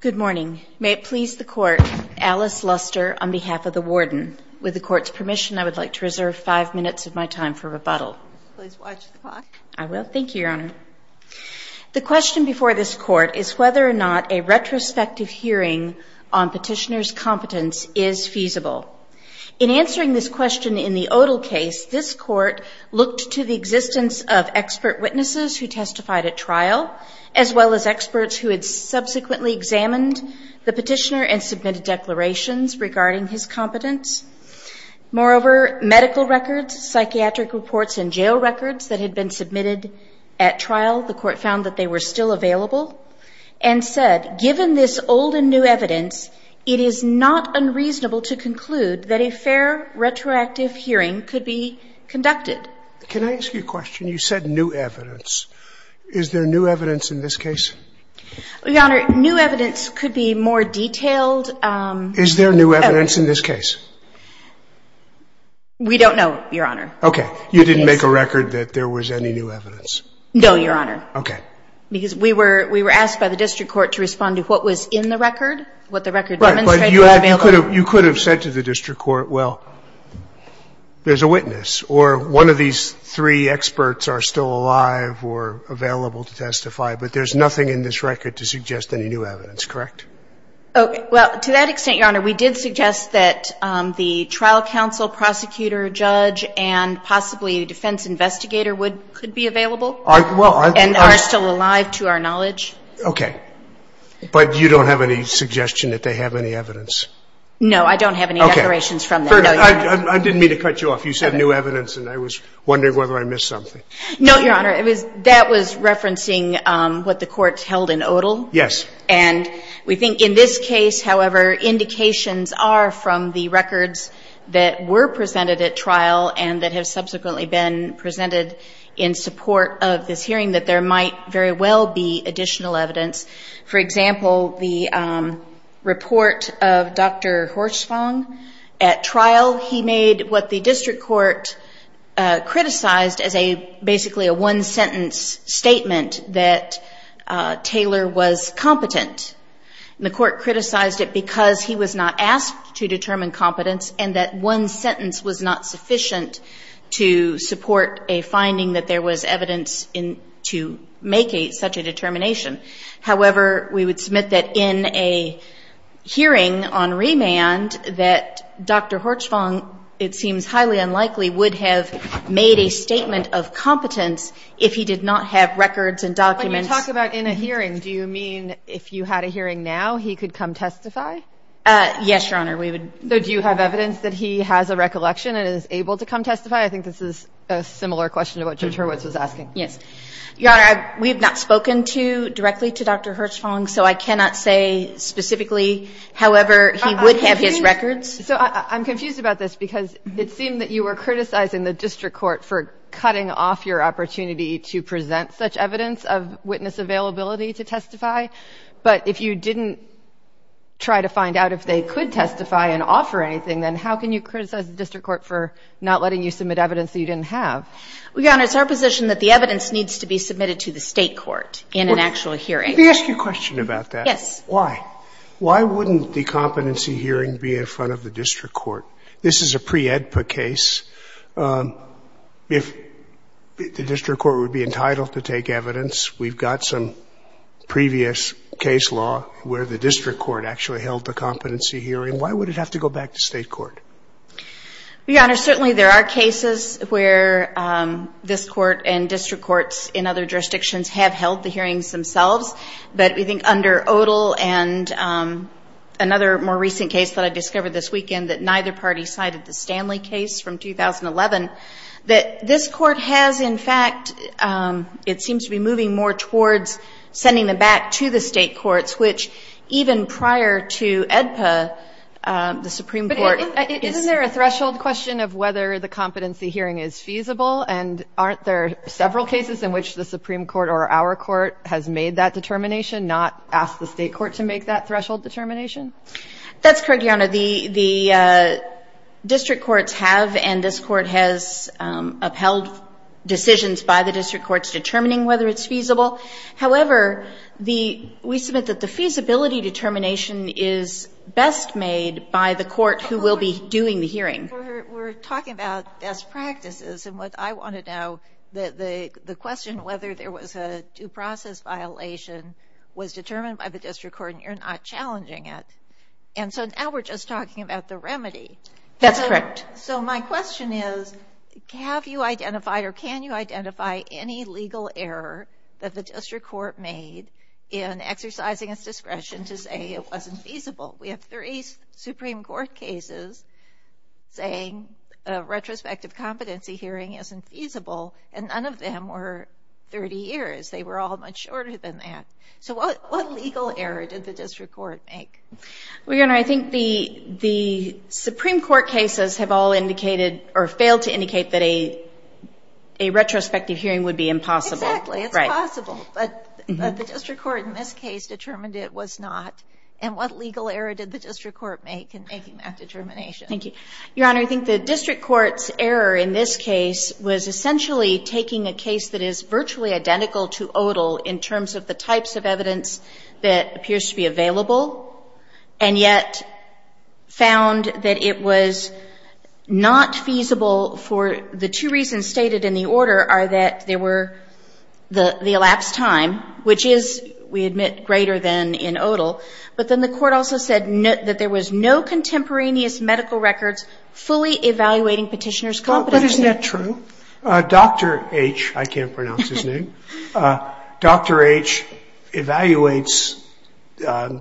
Good morning. May it please the court, Alice Luster on behalf of the warden. With the court's permission, I would like to reserve five minutes of my time for rebuttal. Please watch the clock. I will. Thank you, Your Honor. The question before this court is whether or not a retrospective hearing on petitioner's competence is feasible. In answering this question in the Odle case, this court looked to the existence of expert witnesses who testified at trial, as well as experts who had subsequently examined the petitioner and submitted declarations regarding his competence. Moreover, medical records, psychiatric reports and jail records that had been submitted at trial, the court found that they were still available and said, given this old and new evidence, it is not unreasonable to conclude that a fair retroactive hearing could be conducted. Can I ask you a question? You said new evidence. Is there new evidence in this case? Your Honor, new evidence could be more detailed. Is there new evidence in this case? We don't know, Your Honor. Okay. You didn't make a record that there was any new evidence? No, Your Honor. Okay. Because we were asked by the district court to respond to what was in the record, what the record demonstrated was available. You could have said to the district court, well, there's a witness or one of these three experts are still alive or available to testify, but there's nothing in this record to suggest any new evidence, correct? Well, to that extent, Your Honor, we did suggest that the trial counsel, prosecutor, judge and possibly the defense investigator would be available and are still alive to our knowledge. Okay. But you don't have any suggestion that they have any evidence? No, I don't have any declarations from them. Okay. I didn't mean to cut you off. You said new evidence, and I was wondering whether I missed something. No, Your Honor. That was referencing what the court held in Odall. Yes. And we think in this case, however, indications are from the records that were presented at trial and that have subsequently been presented in support of this hearing that there might very well be additional evidence. For example, the report of Dr. Horsfang. At trial, he made what the district court criticized as basically a one-sentence statement that Taylor was competent. The court criticized it because he was not asked to determine competence and that one such a determination. However, we would submit that in a hearing on remand that Dr. Horsfang, it seems highly unlikely, would have made a statement of competence if he did not have records and documents. When you talk about in a hearing, do you mean if you had a hearing now, he could come testify? Yes, Your Honor. So do you have evidence that he has a recollection and is able to come testify? I think this is a similar question to what Judge Hurwitz was asking. Yes. Your Honor, we have not spoken directly to Dr. Horsfang, so I cannot say specifically however he would have his records. So I'm confused about this because it seemed that you were criticizing the district court for cutting off your opportunity to present such evidence of witness availability to testify. But if you didn't try to find out if they could testify and offer anything, then how can you criticize the district court for not letting you submit evidence that you didn't have? Well, Your Honor, it's our position that the evidence needs to be submitted to the State court in an actual hearing. Let me ask you a question about that. Yes. Why? Why wouldn't the competency hearing be in front of the district court? This is a pre-EDPA case. If the district court would be entitled to take evidence, we've got some previous case law where the district court actually held the competency hearing. Why would it have to go back to State court? Your Honor, certainly there are cases where this court and district courts in other jurisdictions have held the hearings themselves. But we think under Odal and another more recent case that I discovered this weekend that neither party cited, the Stanley case from 2011, that this court has in fact, it seems to be moving more towards sending them back to the State courts, which even prior to EDPA, the Supreme Court is. But isn't there a threshold question of whether the competency hearing is feasible? And aren't there several cases in which the Supreme Court or our court has made that determination, not ask the State court to make that threshold determination? That's correct, Your Honor. The district courts have and this court has upheld decisions by the district courts determining whether it's feasible. However, we submit that the feasibility determination is best made by the court who will be doing the hearing. We're talking about best practices, and what I want to know, the question whether there was a due process violation was determined by the district court and you're not challenging it. And so now we're just talking about the remedy. That's correct. So my question is, have you identified or can you identify any legal error that the district court made in exercising its discretion to say it wasn't feasible? We have three Supreme Court cases saying a retrospective competency hearing isn't feasible, and none of them were 30 years. They were all much shorter than that. So what legal error did the district court make? Well, Your Honor, I think the Supreme Court cases have all indicated or failed to indicate that a retrospective hearing would be impossible. Exactly. It's possible, but the district court in this case determined it was not. And what legal error did the district court make in making that determination? Thank you. Your Honor, I think the district court's error in this case was essentially taking a case that is virtually identical to Odal in terms of the types of evidence that appears to be available and yet found that it was not feasible for the two reasons stated in the order are that there were the elapsed time, which is, we admit, greater than in Odal. But then the court also said that there was no contemporaneous medical records fully evaluating Petitioner's competency. But isn't that true? Dr. H, I can't pronounce his name, Dr. H evaluates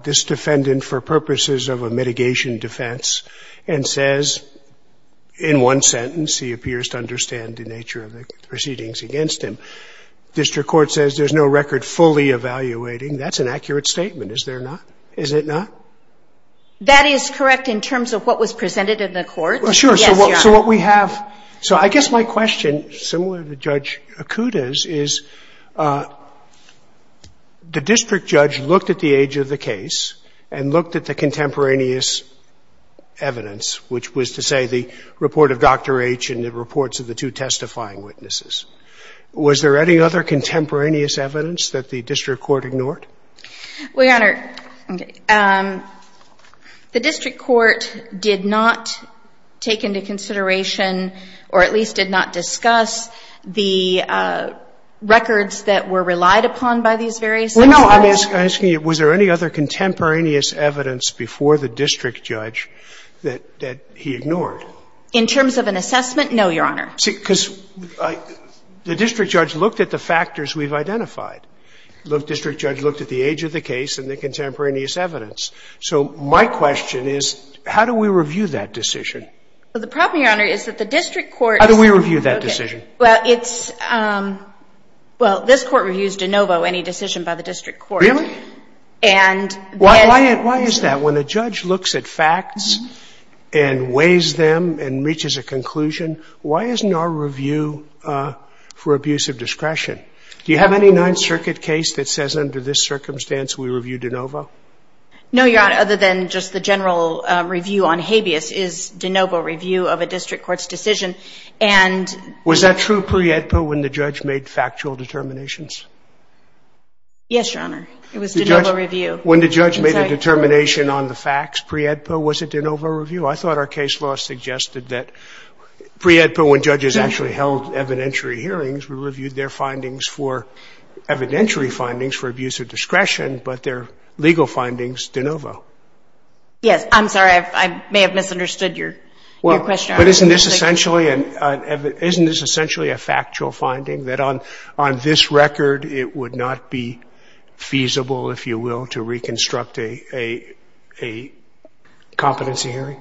this defendant for purposes of a mitigation defense and says in one sentence, he appears to understand the nature of the proceedings against him. District court says there's no record fully evaluating. That's an accurate statement, is there not? Is it not? That is correct in terms of what was presented in the court. Well, sure. Yes, Your Honor. So what we have so I guess my question, similar to Judge Akuta's, is the district judge looked at the age of the case and looked at the contemporaneous evidence, which was to say the report of Dr. H and the reports of the two testifying witnesses. Was there any other contemporaneous evidence that the district court ignored? Well, Your Honor, the district court did not take into consideration or at least did not discuss the records that were relied upon by these various experts. I'm asking you, was there any other contemporaneous evidence before the district judge that he ignored? In terms of an assessment, no, Your Honor. Because the district judge looked at the factors we've identified. The district judge looked at the age of the case and the contemporaneous evidence. So my question is, how do we review that decision? Well, the problem, Your Honor, is that the district court's How do we review that decision? Well, this court reviews de novo any decision by the district court. Really? Why is that? When the judge looks at facts and weighs them and reaches a conclusion, why isn't our review for abuse of discretion? Do you have any Ninth Circuit case that says under this circumstance we review de novo? No, Your Honor. Other than just the general review on habeas is de novo review of a district court's decision. Was that true pre-EDPA when the judge made factual determinations? Yes, Your Honor. It was de novo review. When the judge made a determination on the facts pre-EDPA, was it de novo review? I thought our case law suggested that pre-EDPA, when judges actually held evidentiary hearings, we reviewed their findings for evidentiary findings for abuse of discretion, but their legal findings de novo. Yes. I'm sorry. I may have misunderstood your question. But isn't this essentially a factual finding that on this record it would not be feasible, if you will, to reconstruct a competency hearing?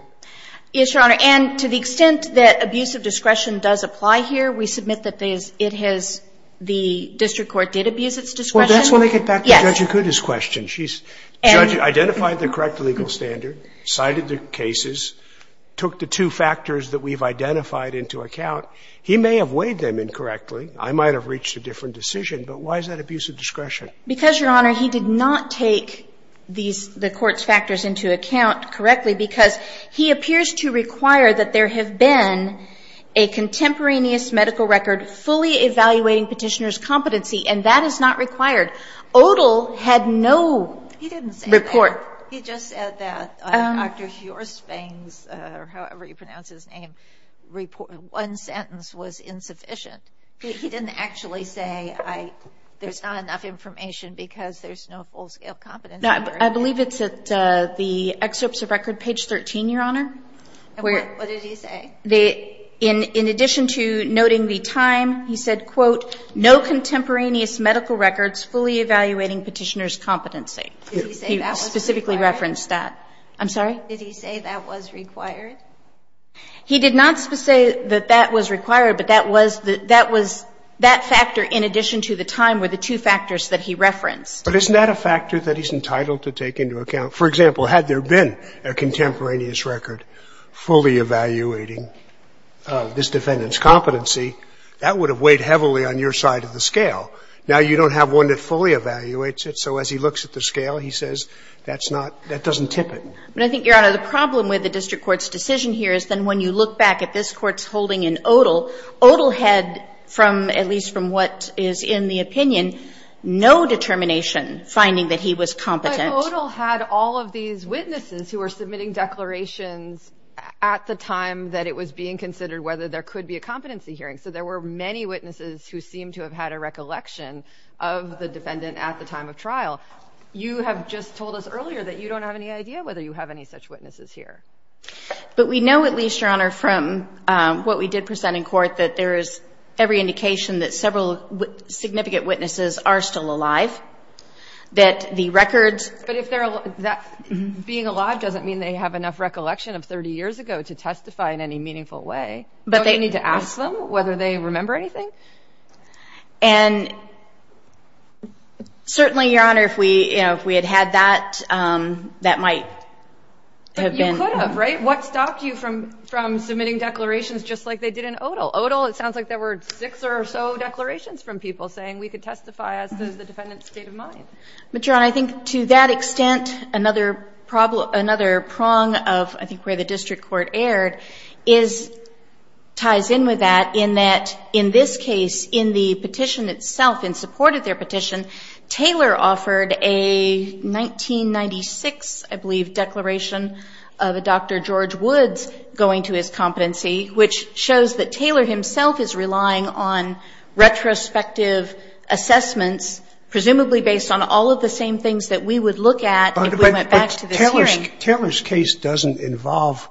Yes, Your Honor. And to the extent that abuse of discretion does apply here, we submit that it has the district court did abuse its discretion. Well, that's when I get back to Judge Akuta's question. She's identified the correct legal standard, cited the cases, took the two factors that we've identified into account. He may have weighed them incorrectly. I might have reached a different decision. But why is that abuse of discretion? Because, Your Honor, he did not take these the court's factors into account correctly, because he appears to require that there have been a contemporaneous medical record fully evaluating Petitioner's competency, and that is not required. Odle had no report. He didn't say that. He just said that. Dr. Horsfang's, or however you pronounce his name, one sentence was insufficient. He didn't actually say there's not enough information because there's no full-scale competency. I believe it's at the excerpts of record, page 13, Your Honor. What did he say? In addition to noting the time, he said, quote, no contemporaneous medical records fully evaluating Petitioner's competency. He specifically referenced that. I'm sorry? Did he say that was required? He did not say that that was required, but that was the that was that factor in addition to the time were the two factors that he referenced. But isn't that a factor that he's entitled to take into account? For example, had there been a contemporaneous record fully evaluating this defendant's competency, that would have weighed heavily on your side of the scale. Now, you don't have one that fully evaluates it, so as he looks at the scale, he says that's not, that doesn't tip it. But I think, Your Honor, the problem with the district court's decision here is then when you look back at this court's holding in Odle, Odle had from, at least from what is in the opinion, no determination finding that he was competent. But Odle had all of these witnesses who were submitting declarations at the time that it was being considered whether there could be a competency hearing. So there were many witnesses who seemed to have had a recollection of the defendant at the time of trial. You have just told us earlier that you don't have any idea whether you have any such witnesses here. But we know, at least, Your Honor, from what we did present in court, that there is every indication that several significant witnesses are still alive, that the records. But if they're alive, being alive doesn't mean they have enough recollection of 30 years ago to testify in any meaningful way. You don't need to ask them whether they remember anything? And certainly, Your Honor, if we had had that, that might have been. But you could have, right? What stopped you from submitting declarations just like they did in Odle? Odle, it sounds like there were six or so declarations from people saying we could testify as does the defendant's state of mind. But, Your Honor, I think to that extent, another prong of, I think, where the case ties in with that in that, in this case, in the petition itself, in support of their petition, Taylor offered a 1996, I believe, declaration of a Dr. George Woods going to his competency, which shows that Taylor himself is relying on retrospective assessments, presumably based on all of the same things that we would look at if we went back to this hearing. I think Taylor's case doesn't involve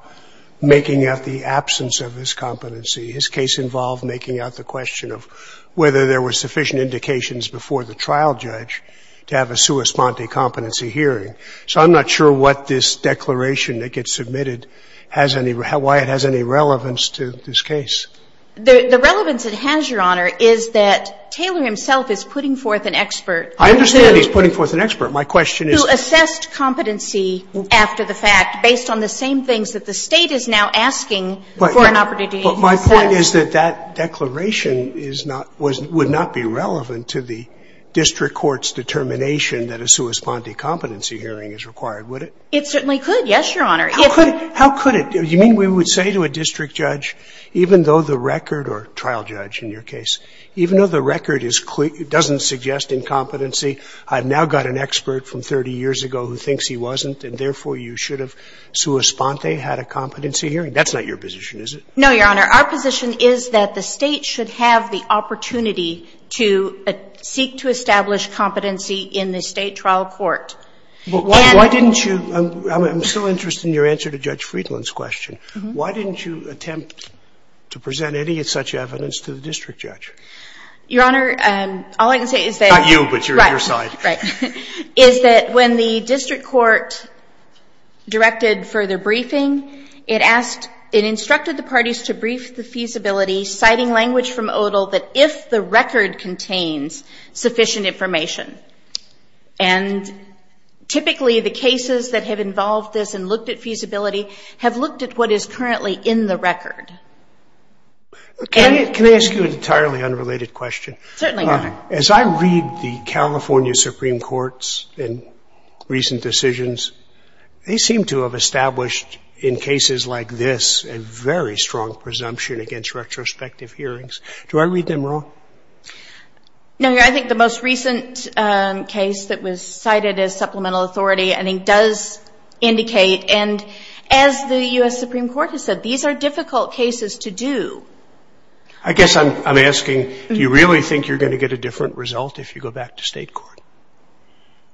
making out the absence of his competency. His case involved making out the question of whether there were sufficient indications before the trial judge to have a sua sponte competency hearing. So I'm not sure what this declaration that gets submitted has any, why it has any relevance to this case. The relevance it has, Your Honor, is that Taylor himself is putting forth an expert who's a — I understand he's putting forth an expert. My question is — You assessed competency after the fact, based on the same things that the State is now asking for an opportunity to assess. But my point is that that declaration is not — would not be relevant to the district court's determination that a sua sponte competency hearing is required, would it? It certainly could, yes, Your Honor. How could it? Do you mean we would say to a district judge, even though the record, or trial judge in your case, even though the record is clear, it doesn't suggest incompetency, I've now got an expert from 30 years ago who thinks he wasn't and, therefore, you should have sua sponte had a competency hearing? That's not your position, is it? No, Your Honor. Our position is that the State should have the opportunity to seek to establish competency in the State trial court. Why didn't you — I'm so interested in your answer to Judge Friedland's question. Why didn't you attempt to present any such evidence to the district judge? Your Honor, all I can say is that — Not you, but your — Right. Is that when the district court directed further briefing, it asked — it instructed the parties to brief the feasibility, citing language from Odal, that if the record contains sufficient information, and typically the cases that have involved this and looked at feasibility have looked at what is currently in the record. Can I ask you an entirely unrelated question? Certainly, Your Honor. As I read the California Supreme Court's recent decisions, they seem to have established in cases like this a very strong presumption against retrospective hearings. Do I read them wrong? No, Your Honor. I think the most recent case that was cited as supplemental authority, I think, does indicate, and as the U.S. Supreme Court has said, these are difficult cases to do. I guess I'm asking, do you really think you're going to get a different result if you go back to state court?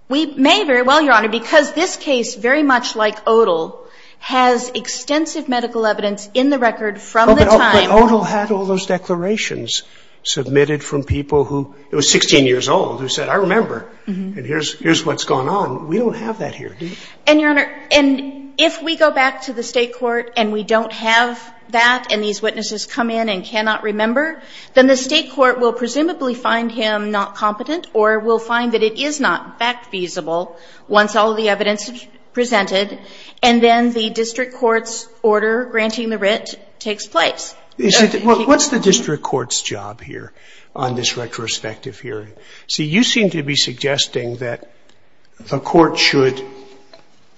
We may very well, Your Honor, because this case, very much like Odal, has extensive medical evidence in the record from the time — But Odal had all those declarations submitted from people who — it was 16 years old who said, I remember, and here's what's gone on. We don't have that here, do we? And, Your Honor, and if we go back to the state court and we don't have that and these witnesses come in and cannot remember, then the state court will presumably find him not competent or will find that it is not fact-feasible once all of the evidence is presented, and then the district court's order granting the writ takes place. What's the district court's job here on this retrospective hearing? See, you seem to be suggesting that the court should,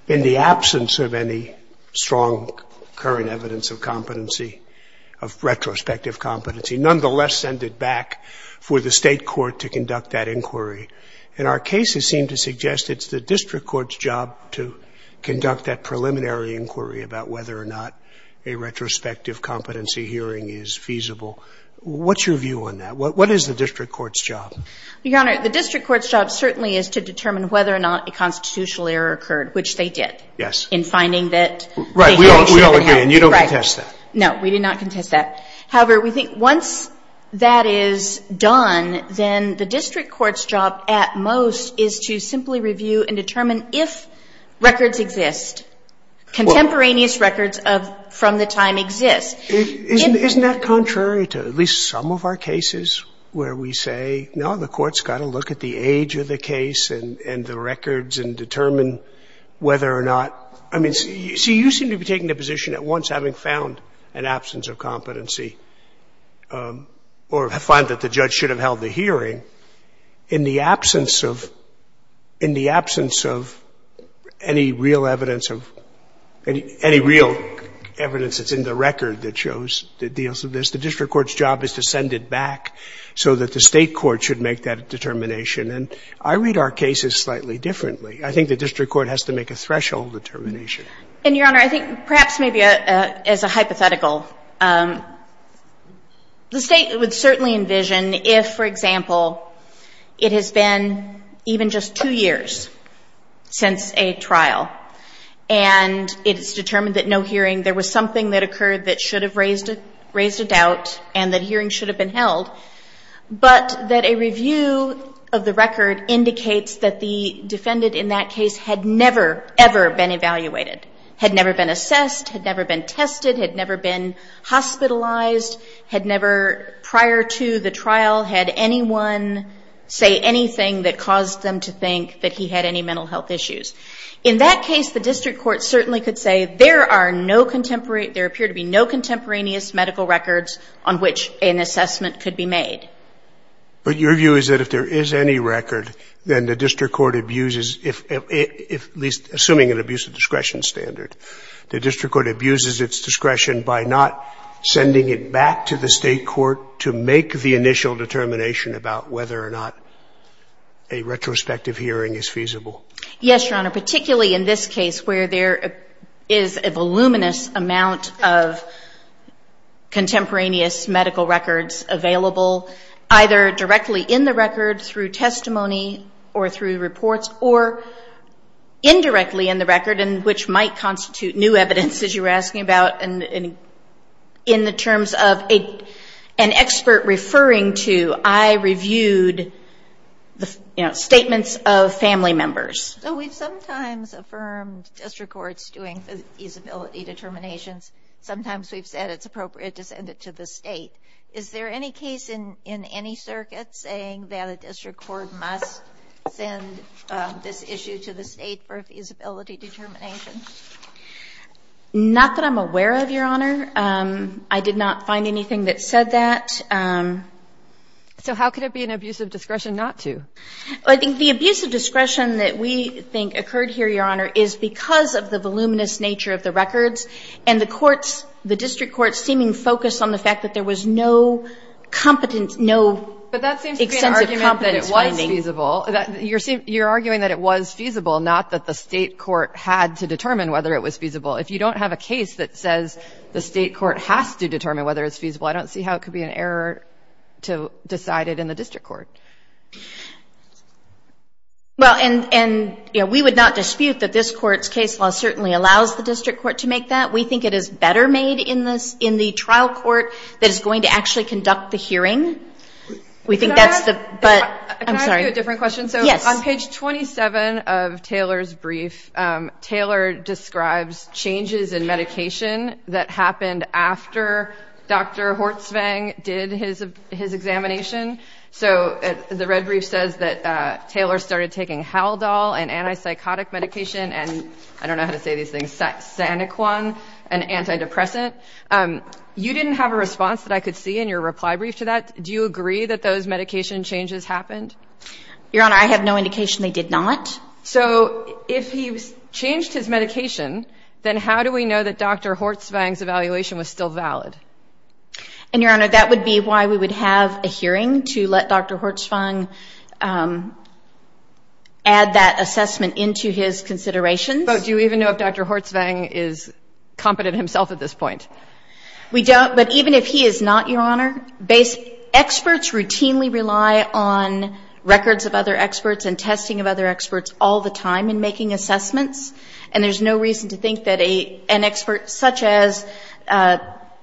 in the absence of any strong current evidence of competency, of retrospective competency, nonetheless send it back for the state court to conduct that inquiry. And our cases seem to suggest it's the district court's job to conduct that preliminary inquiry about whether or not a retrospective competency hearing is feasible. What's your view on that? What is the district court's job? Your Honor, the district court's job certainly is to determine whether or not a constitutional error occurred, which they did. Yes. In finding that — Right. We all agree, and you don't contest that. No. We do not contest that. However, we think once that is done, then the district court's job at most is to simply review and determine if records exist, contemporaneous records from the time exist. Isn't that contrary to at least some of our cases where we say, no, the court's got to look at the age of the case and the records and determine whether or not — I mean, you seem to be taking the position at once, having found an absence of competency or find that the judge should have held the hearing, in the absence of — in the absence of any real evidence of — any real evidence that's in the record that shows the deals of this, the district court's job is to send it back so that the state court should make that determination. And I read our cases slightly differently. I think the district court has to make a threshold determination. And, Your Honor, I think perhaps maybe as a hypothetical, the state would certainly envision if, for example, it has been even just two years since a trial, and it's determined that no hearing, there was something that occurred that should have raised a doubt and that a hearing should have been held, but that a review of the record had never been assessed, had never been tested, had never been hospitalized, had never, prior to the trial, had anyone say anything that caused them to think that he had any mental health issues. In that case, the district court certainly could say, there are no contemporary — there appear to be no contemporaneous medical records on which an assessment could be made. But your view is that if there is any record, then the district court abuses — if at least, assuming an abuse of discretion standard, the district court abuses its discretion by not sending it back to the state court to make the initial determination about whether or not a retrospective hearing is feasible? Yes, Your Honor, particularly in this case where there is a voluminous amount of contemporaneous medical records available, either directly in the record through testimony or through testimony directly in the record, and which might constitute new evidence, as you were asking about, in the terms of an expert referring to, I reviewed, you know, statements of family members. So we've sometimes affirmed district courts doing feasibility determinations. Sometimes we've said it's appropriate to send it to the state. Is there any case in any circuit saying that a district court must send this issue to the state to make a feasibility determination? Not that I'm aware of, Your Honor. I did not find anything that said that. So how could it be an abuse of discretion not to? I think the abuse of discretion that we think occurred here, Your Honor, is because of the voluminous nature of the records and the courts — the district courts seeming focused on the fact that there was no competence — no extensive competence finding. It was feasible. You're arguing that it was feasible, not that the state court had to determine whether it was feasible. If you don't have a case that says the state court has to determine whether it's feasible, I don't see how it could be an error to decide it in the district court. Well, and, you know, we would not dispute that this court's case law certainly allows the district court to make that. We think it is better made in the trial court that is going to actually conduct the hearing. We think that's the — Can I ask — I'm sorry. Can I ask you a different question? Yes. So on page 27 of Taylor's brief, Taylor describes changes in medication that happened after Dr. Hortsvang did his examination. So the red brief says that Taylor started taking Haldol and antipsychotic medication and — I don't know how to say these things — Saniquan and antidepressant. You didn't have a response that I could see in your reply brief to that. Do you agree that those medication changes happened? Your Honor, I have no indication they did not. So if he changed his medication, then how do we know that Dr. Hortsvang's evaluation was still valid? And, Your Honor, that would be why we would have a hearing to let Dr. Hortsvang add that assessment into his considerations. But do you even know if Dr. Hortsvang is competent himself at this point? We don't. But even if he is not, Your Honor, experts routinely rely on records of other experts and testing of other experts all the time in making assessments. And there's no reason to think that an expert such as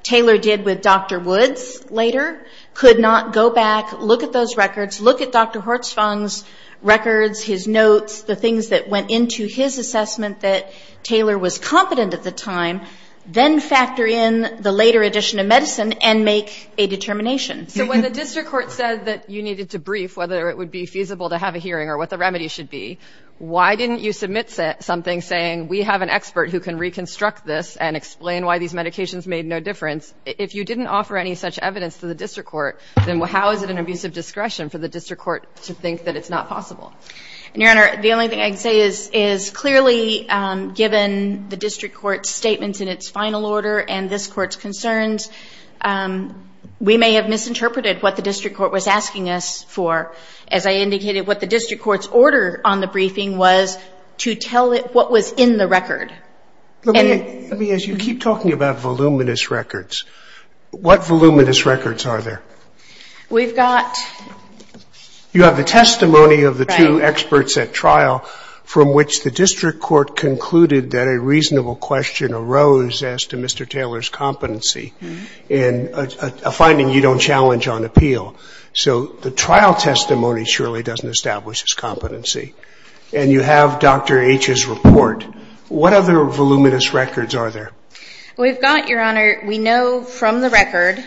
Taylor did with Dr. Woods later could not go back, look at those records, look at Dr. Hortsvang's records, his notes, the things that went into his assessment that Taylor was competent at the time, then factor in the later addition of medicine and make a determination. So when the district court said that you needed to brief whether it would be feasible to have a hearing or what the remedy should be, why didn't you submit something saying we have an expert who can reconstruct this and explain why these medications made no difference? If you didn't offer any such evidence to the district court, then how is it an abusive discretion for the district court to think that it's not possible? And, Your Honor, the only thing I can say is clearly given the district court's statements in its final order and this court's concerns, we may have misinterpreted what the district court was asking us for. As I indicated, what the district court's order on the briefing was to tell it what was in the record. Let me ask you, you keep talking about voluminous records. What voluminous records are there? We've got... You have the testimony of the two experts at trial from which the district court concluded that a reasonable question arose as to Mr. Taylor's competency in a finding you don't challenge on appeal. So the trial testimony surely doesn't establish his competency. And you have Dr. H's report. What other voluminous records are there? We've got, Your Honor, we know from the record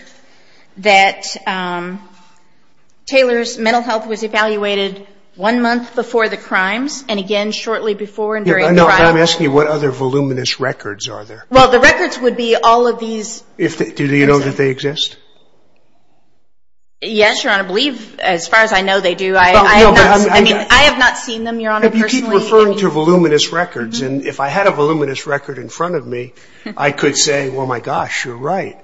that Taylor's mental health was evaluated one month before the crimes and again shortly before and during the crimes. I'm asking you what other voluminous records are there? Well, the records would be all of these. Do you know that they exist? Yes, Your Honor. I believe as far as I know they do. I have not seen them, Your Honor, personally. You keep referring to voluminous records. And if I had a voluminous record in front of me, I could say, well, my gosh, you're right.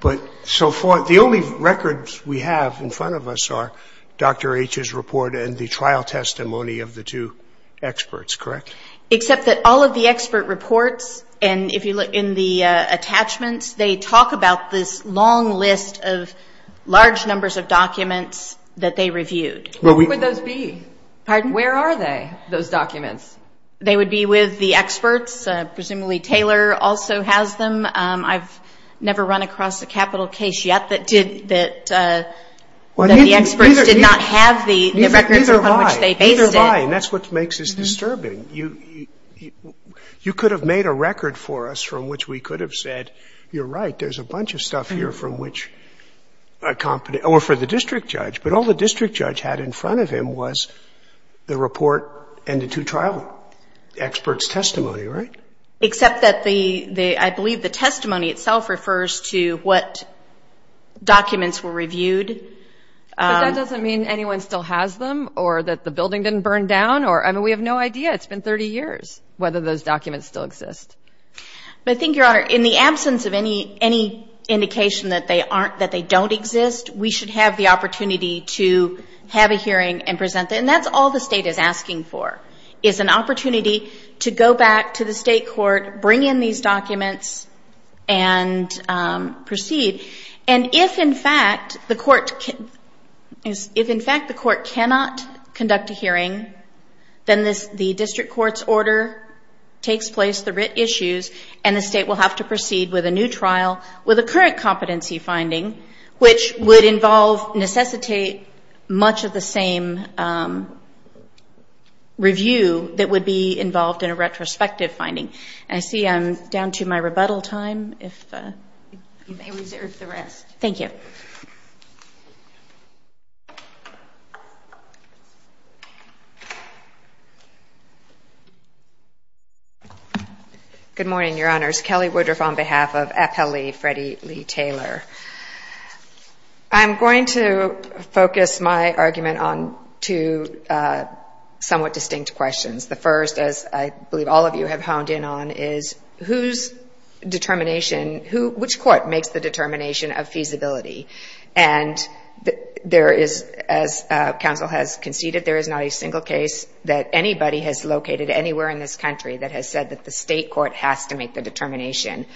But so far, the only records we have in front of us are Dr. H's report and the trial testimony of the two experts, correct? Except that all of the expert reports and if you look in the attachments, they talk about this long list of large numbers of documents that they reviewed. Where would those be? Pardon? Where are they, those documents? They would be with the experts. Presumably Taylor also has them. I've never run across a capital case yet that did that the experts did not have the records upon which they based it. Neither have I. And that's what makes this disturbing. You could have made a record for us from which we could have said, you're right, there's a bunch of stuff here from which a competent or for the district judge. But all the district judge had in front of him was the report and the two trial experts' testimony, right? Except that the, I believe the testimony itself refers to what documents were reviewed. But that doesn't mean anyone still has them or that the building didn't burn down. I mean, we have no idea. It's been 30 years whether those documents still exist. But I think, Your Honor, in the absence of any indication that they don't exist, we should have the opportunity to have a hearing and present them. And that's all the state is asking for, is an opportunity to go back to the state court, bring in these documents, and proceed. And if, in fact, the court cannot conduct a hearing, then the district court's order takes place, the writ issues, and the state will have to proceed with a new trial with a current competency finding, which would involve, necessitate much of the same review that would be involved in a retrospective finding. And I see I'm down to my rebuttal time, if you may reserve the rest. Thank you. Good morning, Your Honors. Kelly Woodruff on behalf of Appellee Freddie Lee Taylor. I'm going to focus my argument on two somewhat distinct questions. The first, as I believe all of you have honed in on, is whose determination – which court makes the determination of feasibility? And there is – as counsel has conceded, there is not a single case that anybody has located anywhere in this country that has said that the state court has to make the determination.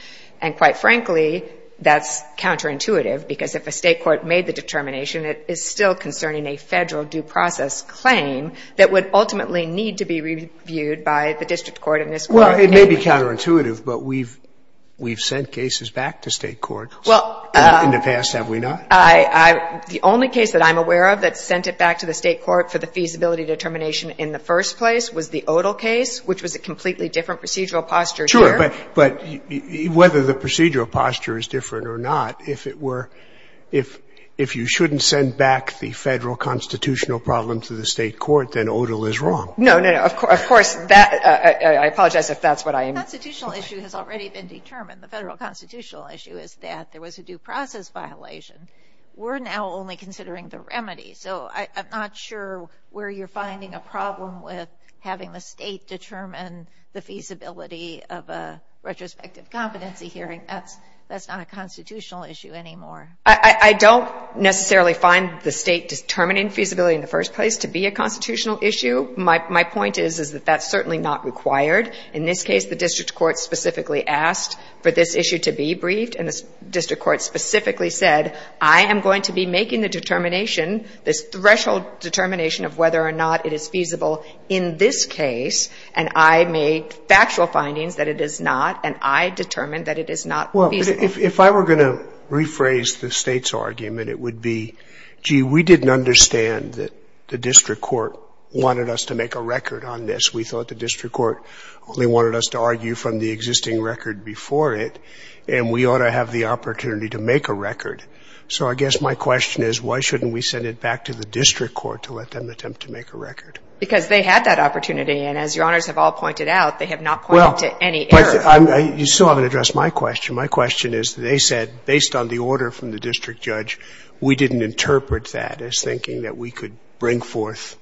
And quite frankly, that's counterintuitive, because if a state court made the determination, it is still concerning a federal due process claim that would ultimately need to be reviewed by the district court in this court. Well, it may be counterintuitive, but we've sent cases back to state courts. In the past, have we not? The only case that I'm aware of that sent it back to the state court for the feasibility determination in the first place was the Odle case, which was a completely different procedural posture here. Sure. But whether the procedural posture is different or not, if it were – if you shouldn't send back the federal constitutional problem to the state court, then Odle is wrong. No, no, no. Of course, that – I apologize if that's what I – The constitutional issue has already been determined. The federal constitutional issue is that there was a due process violation. We're now only considering the remedy. So I'm not sure where you're finding a problem with having the state determine the feasibility of a retrospective competency hearing. That's not a constitutional issue anymore. I don't necessarily find the state determining feasibility in the first place to be a constitutional issue. My point is, is that that's certainly not required. In this case, the district court specifically asked for this issue to be briefed and the district court specifically said, I am going to be making the determination, this threshold determination of whether or not it is feasible in this case, and I made factual findings that it is not, and I determined that it is not feasible. Well, if I were going to rephrase the state's argument, it would be, gee, we didn't understand that the district court wanted us to make a record on this. We thought the district court only wanted us to argue from the existing record before it, and we ought to have the opportunity to make a record. So I guess my question is, why shouldn't we send it back to the district court to let them attempt to make a record? Because they had that opportunity, and as Your Honors have all pointed out, they have not pointed to any error. You still haven't addressed my question. My question is, they said, based on the order from the district judge, we didn't interpret that as thinking that we could bring forth,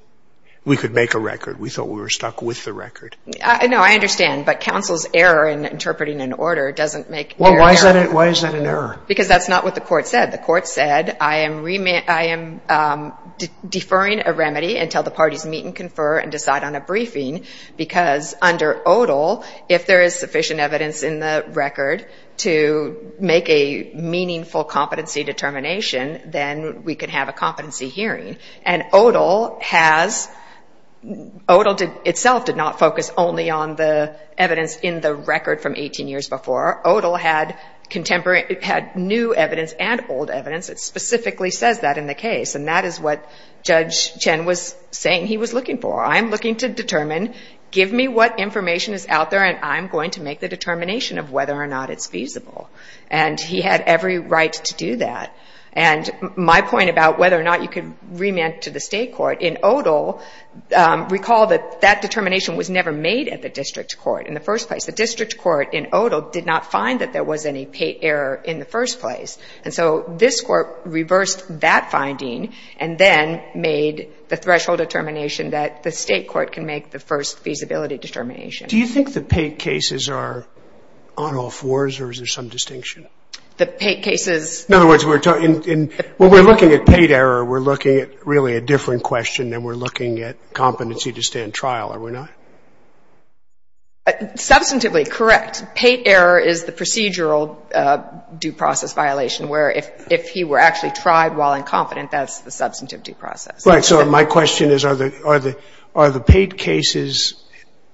we could make a record. We thought we were stuck with the record. No, I understand. But counsel's error in interpreting an order doesn't make error. Well, why is that an error? Because that's not what the court said. The court said, I am deferring a remedy until the parties meet and confer and decide on a briefing, because under ODAL, if there is sufficient evidence in the record to make a meaningful competency determination, then we can have a competency hearing. And ODAL has, ODAL itself did not focus only on the evidence in the record from 18 years before. ODAL had contemporary, had new evidence and old evidence that specifically says that in the case. And that is what Judge Chen was saying he was looking for. I'm looking to determine, give me what information is out there, and I'm going to make the determination of whether or not it's feasible. And he had every right to do that. And my point about whether or not you could remand to the state court, in ODAL, recall that that determination was never made at the district court in the first place. The district court in ODAL did not find that there was any error in the first place. And so this court reversed that finding, and then made the threshold determination that the state court can make the first feasibility determination. Do you think the PATE cases are on-off wars, or is there some distinction? The PATE cases? In other words, when we're looking at PATE error, we're looking at really a different question than we're looking at competency to stand trial, are we not? Substantively correct. PATE error is the procedural due process violation, where if he were actually tried while incompetent, that's the substantive due process. Right. So my question is, are the PATE cases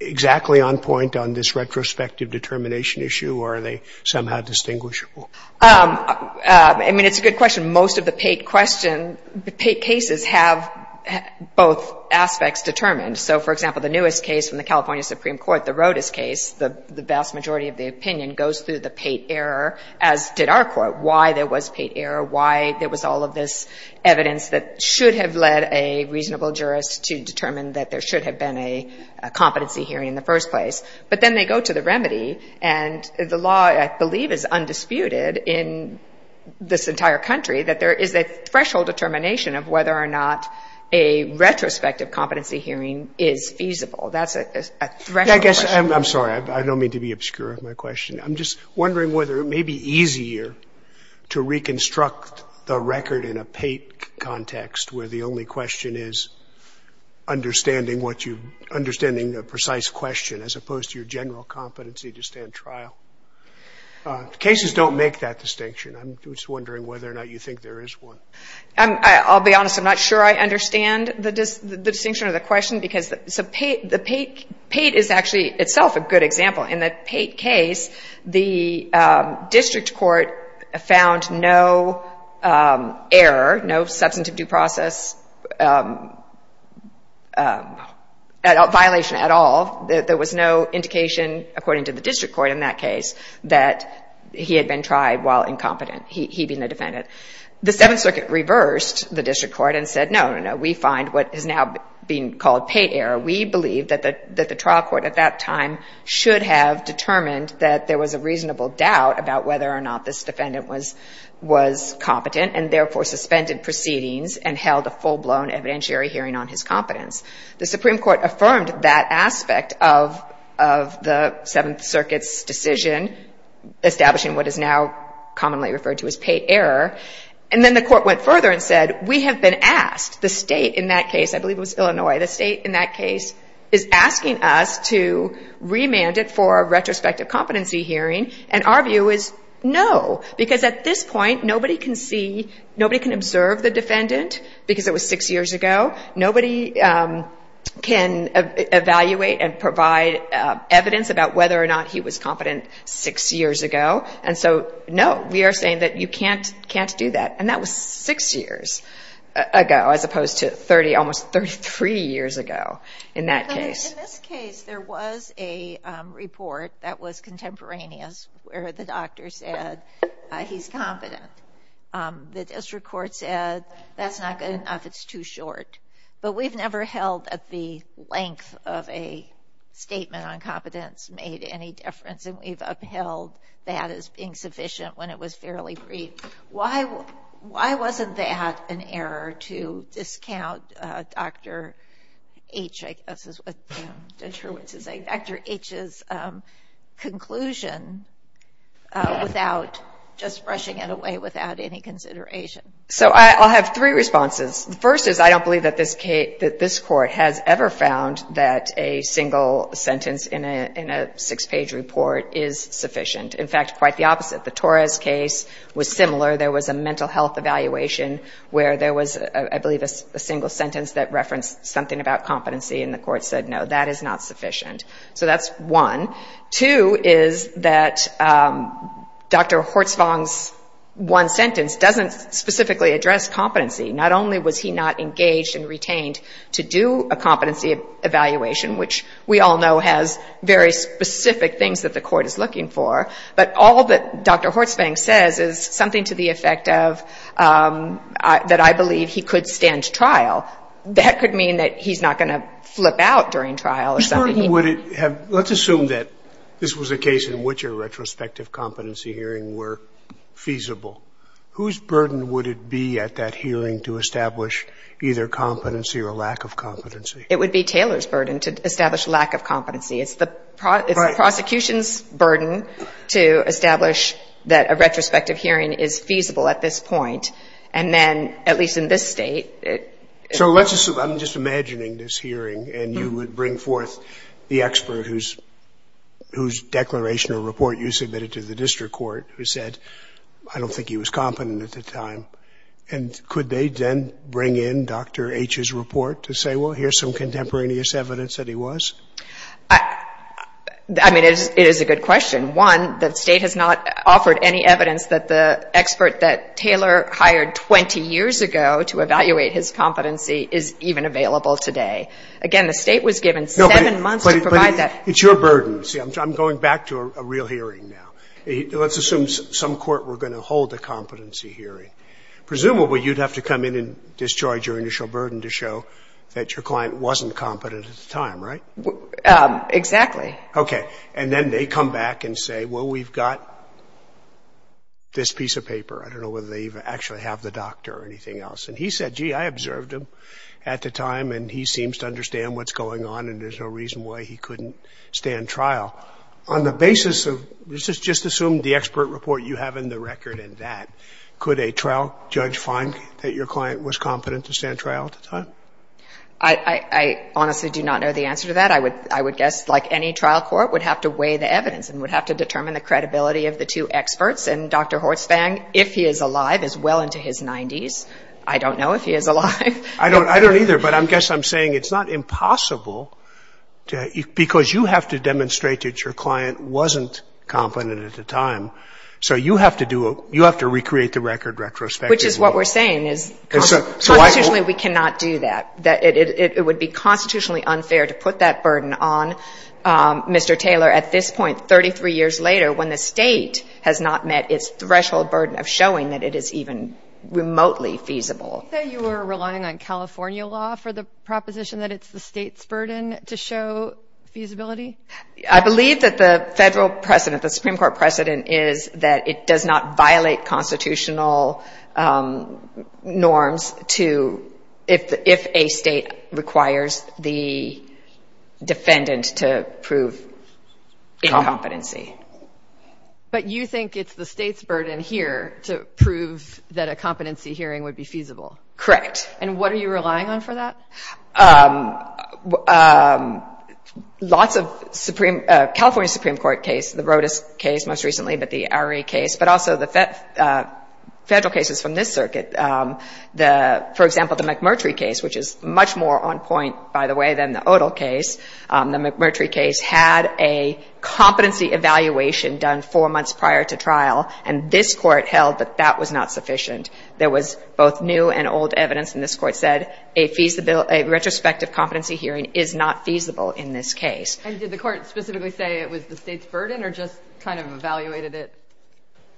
exactly on point on this retrospective determination issue, or are they somehow distinguishable? I mean, it's a good question. Most of the PATE question, PATE cases, have both aspects determined. So, for example, the newest case from the California Supreme Court, the Rodas case, the vast majority of the opinion goes through the PATE error, as did our court, why there was PATE error, why there was all of this evidence that should have led a reasonable jurist to determine that there should have been a competency hearing in the first place. But then they go to the remedy, and the law, I believe, is undisputed in this entire country, that there is a threshold determination of whether or not a retrospective competency hearing is feasible. That's a threshold. I guess, I'm sorry, I don't mean to be obscure of my question. I'm just wondering whether it may be easier to reconstruct the record in a PATE context, where the only question is understanding what you, understanding the precise question, as opposed to your general competency to stand trial. Cases don't make that distinction. I'm just wondering whether or not you think there is one. I'll be honest, I'm not sure I understand the distinction or the question, because PATE is actually, itself, a good example. In the PATE case, the district court found no error, no substantive due process violation at all. There was no indication, according to the district court in that case, that he had been tried while incompetent, he being the defendant. The Seventh Circuit reversed the district court and said, no, no, no, we find what is now being called PATE error. We believe that the trial court at that time should have determined that there was a reasonable doubt about whether or not this defendant was competent, and therefore suspended proceedings and held a full-blown evidentiary hearing on his competence. The Supreme Court affirmed that aspect of the Seventh Circuit's decision establishing what is now commonly referred to as PATE error, and then the court went further and said, we have been asked. The state in that case, I believe it was Illinois, the state in that case is asking us to remand it for a retrospective competency hearing, and our view is, no. Because at this point, nobody can see, because it was six years ago, nobody can evaluate and provide evidence about whether or not he was competent six years ago. And so, no, we are saying that you can't do that. And that was six years ago, as opposed to almost 33 years ago in that case. In this case, there was a report that was contemporaneous where the doctor said he's competent. The district court said that's not good enough, it's too short. But we've never held that the length of a statement on competence made any difference, and we've upheld that as being sufficient when it was fairly brief. Why wasn't that an error to discount Dr. H's conclusion without just brushing it away without any consideration? I'll have three responses. First is, I don't believe that this court has ever found that a single sentence in a six-page report is sufficient. In fact, quite the opposite. The Torres case was similar. There was a mental health evaluation where there was a single sentence that referenced something about competency, and the court said, no, that is not sufficient. So that's one. Two is that Dr. Hortsvang's one sentence doesn't specifically address competency. Not only was he not engaged and retained to do a competency evaluation, which we all know has very specific things that the court is looking for, but all that Dr. Hortsvang says is something to the effect of that I believe he could stand trial. That could mean that he's not going to flip out during trial. Let's assume that this was a case in which a retrospective competency hearing were feasible. Whose burden would it be at that hearing to establish either competency or lack of competency? It would be Taylor's burden to establish lack of competency. It's the prosecution's burden to establish that a retrospective hearing is feasible at this point, and then at least in this state, So let's assume, I'm just imagining this hearing and you would bring forth the expert whose declaration or report you submitted to the district court who said I don't think he was competent at the time. And could they then bring in Dr. H's report to say, well, here's some contemporaneous evidence that he was? I mean, it is a good question. One, the state has not offered any evidence that the expert that Taylor hired 20 years ago to evaluate his competency is even available today. Again, the state was given seven months to provide that. But it's your burden. I'm going back to a real hearing now. Let's assume some court were going to hold a competency hearing. Presumably, you'd have to come in and destroy your initial burden to show that your client wasn't competent at the time, right? Exactly. Okay. And then they come back and say, well, we've got this piece of paper. I don't know whether they actually have the doctor or anything else. And he said, gee, I observed him at the time, and he seems to understand what's going on, and there's no reason why he couldn't stand trial. On the basis of, let's just assume the expert report you have in the record and that, could a trial judge find that your client was competent to stand trial at the time? I honestly do not know the answer to that. I would guess, like any trial court, would have to weigh the evidence and would have to determine the credibility of the two experts and Dr. Hortzfang, if he is alive, is well into his 90s. I don't know if he is alive. I don't either, but I guess I'm saying it's not impossible because you have to demonstrate that your client wasn't competent at the time, so you have to do you have to recreate the record retrospectively. Which is what we're saying, is constitutionally we cannot do that. It would be constitutionally unfair to put that burden on Mr. Taylor at this point, 33 years later, when the state has not met its threshold burden of showing that it is even remotely feasible. You were relying on California law for the proposition that it's the state's burden to show feasibility? I believe that the federal precedent, the Supreme Court precedent is that it does not violate constitutional norms to if a state requires the defendant to prove incompetency. But you think it's the state's burden here to prove that a competency hearing would be feasible? Correct. And what are you relying on for that? Lots of California Supreme Court cases, the Rodas case most recently but the Arey case, but also the federal cases from this circuit for example the McMurtry case, which is much more on point, by the way, than the Odall case the McMurtry case had a competency evaluation done four months prior to trial and this court held that that was not sufficient there was both new and old evidence and this court said a retrospective competency hearing is not feasible in this case. And did the court specifically say it was the state's burden or just kind of evaluated it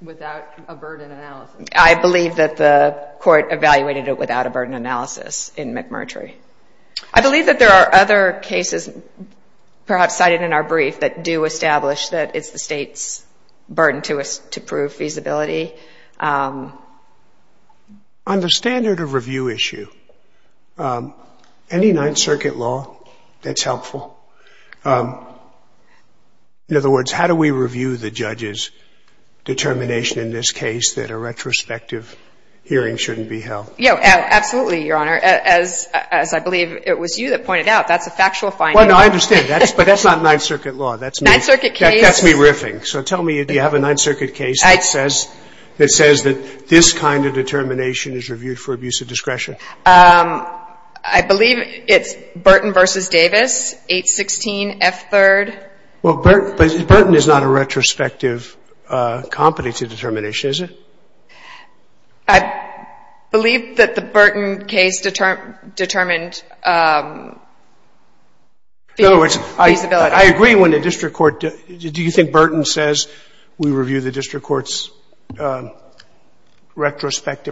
without a burden analysis? I believe that the court evaluated it without a burden analysis in McMurtry. I believe that there are other cases perhaps cited in our brief that do establish that it's the state's burden to prove feasibility. On the standard of review issue any Ninth Circuit law that's helpful in other words how do we review the judge's determination in this case that a retrospective hearing shouldn't be held? Yeah, absolutely, Your Honor as I believe it was you that pointed out, that's a factual finding. No, I understand, but that's not Ninth Circuit law that's me riffing. So tell me, do you have a Ninth Circuit case that says that this kind of determination is reviewed for abuse of discretion? I believe it's Burton vs. Davis, 816 F3rd. Well, Burton is not a retrospective competency determination, is it? I believe that the Burton case determined feasibility. In other words, I agree when the district court, do you think Burton says we review the district court's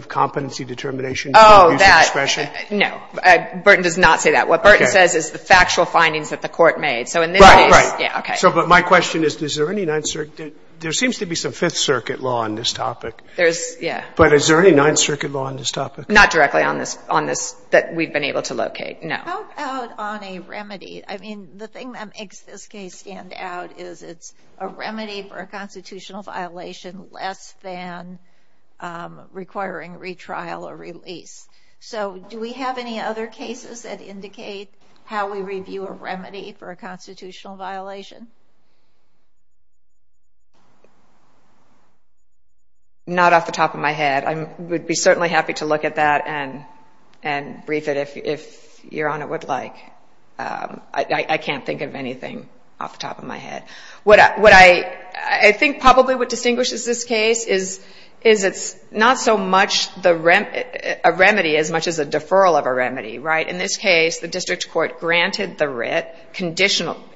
competency determination for abuse of discretion? Oh, that, no. Burton does not say that. What Burton says is the factual findings that the court made. Right, right. So but my question is is there any Ninth Circuit, there seems to be some Fifth Circuit law on this topic. There's, yeah. But is there any Ninth Circuit law on this topic? Not directly on this that we've been able to locate, no. How about on a remedy? I mean, the thing that makes this case stand out is it's a remedy for a constitutional violation less than requiring retrial or release. So do we have any other cases that indicate how we review a remedy for a constitutional violation? Not off the top of my head. I would be certainly happy to look at that and I would like, I can't think of anything off the top of my head. What I think probably what distinguishes this case is it's not so much a remedy as much as a deferral of a remedy, right? In this case, the district court granted the writ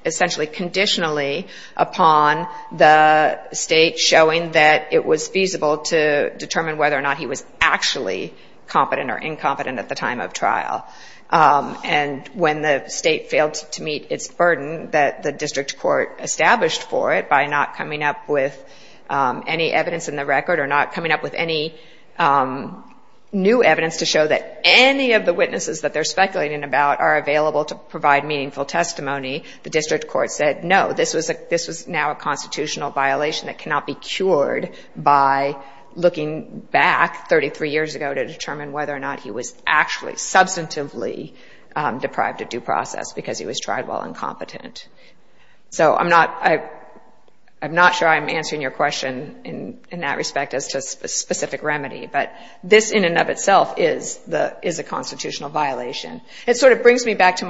essentially conditionally upon the state showing that it was feasible to determine whether or not he was actually competent or incompetent at the time of trial. And when the state failed to meet its burden that the district court established for it by not coming up with any evidence in the record or not coming up with any new evidence to show that any of the witnesses that they're speculating about are available to provide meaningful testimony, the district court said, no, this was now a constitutional violation that cannot be cured by looking back 33 years ago to determine whether or not he was actually substantively deprived of due process because he was tried while incompetent. So I'm not sure I'm answering your question in that respect as to a specific remedy, but this in and of itself is a constitutional violation. It sort of brings me back to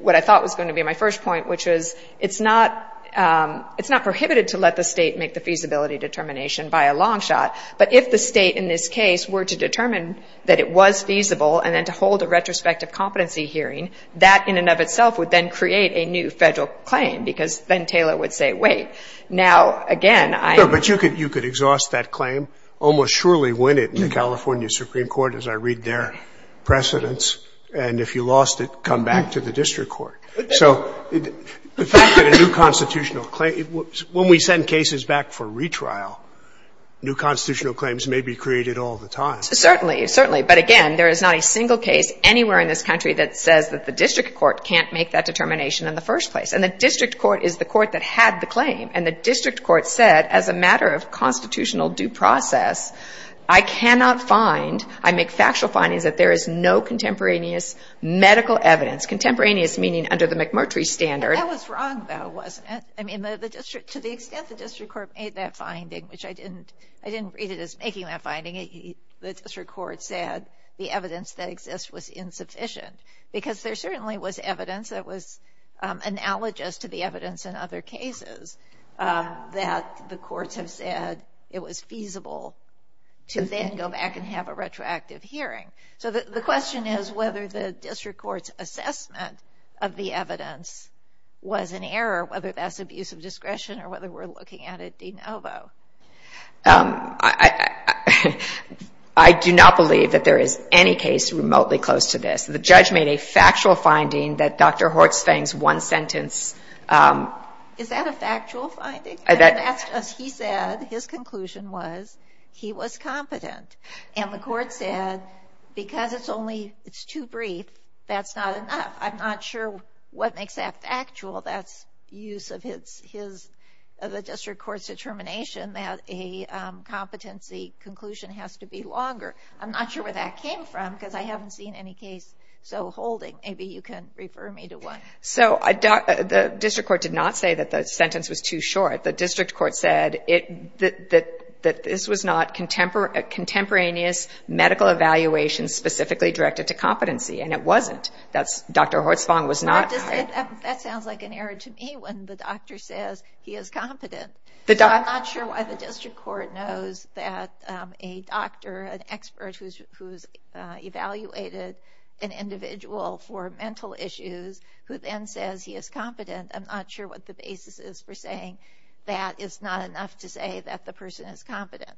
what I thought was going to be my first point, which is it's not prohibited to let the state make the feasibility determination by a long shot, but if the state in this case were to determine that it was feasible and then to hold a retrospective competency hearing, that in and of itself would then create a new federal claim because then Taylor would say, wait, now again I'm... No, but you could exhaust that claim, almost surely win it in the California Supreme Court as I read their precedents, and if you lost it, come back to the district court. So the fact that a new constitutional claim, when we send cases back for retrial, new constitutional claims may be created all the time. Certainly, certainly, but again, there is not a single case anywhere in this country that says that the district court can't make that determination in the first place, and the district court is the court that had the claim, and the district court said as a matter of constitutional due process, I cannot find, I make factual findings that there is no contemporaneous medical evidence, contemporaneous meaning under the McMurtry standard. That was wrong, though, wasn't it? I mean, to the extent that the district court made that finding, which I didn't read it as making that finding, the district court said the evidence that exists was insufficient, because there certainly was evidence that was analogous to the evidence in other cases that the courts have said it was feasible to then go back and have a retroactive hearing. So the question is whether the district court's assessment of the evidence was an error, whether that's abuse of discretion, or whether we're looking at it de novo. I do not believe that there is any case remotely close to this. The judge made a factual finding that Dr. Hortzfang's one sentence Is that a factual finding? That's just, he said his conclusion was he was competent, and the court said, because it's only too brief, that's not enough. I'm not sure what makes that of the district court's determination that a competency conclusion has to be longer. I'm not sure where that came from, because I haven't seen any case so holding. Maybe you can refer me to one. So the district court did not say that the sentence was too short. The district court said that this was not contemporaneous medical evaluation specifically directed to competency, and it wasn't. Dr. Hortzfang was not That sounds like an error to me when the doctor says he is competent. I'm not sure why the district court knows that a doctor, an expert, who's evaluated an individual for mental issues, who then says he is competent. I'm not sure what the basis is for saying that it's not enough to say that the person is competent.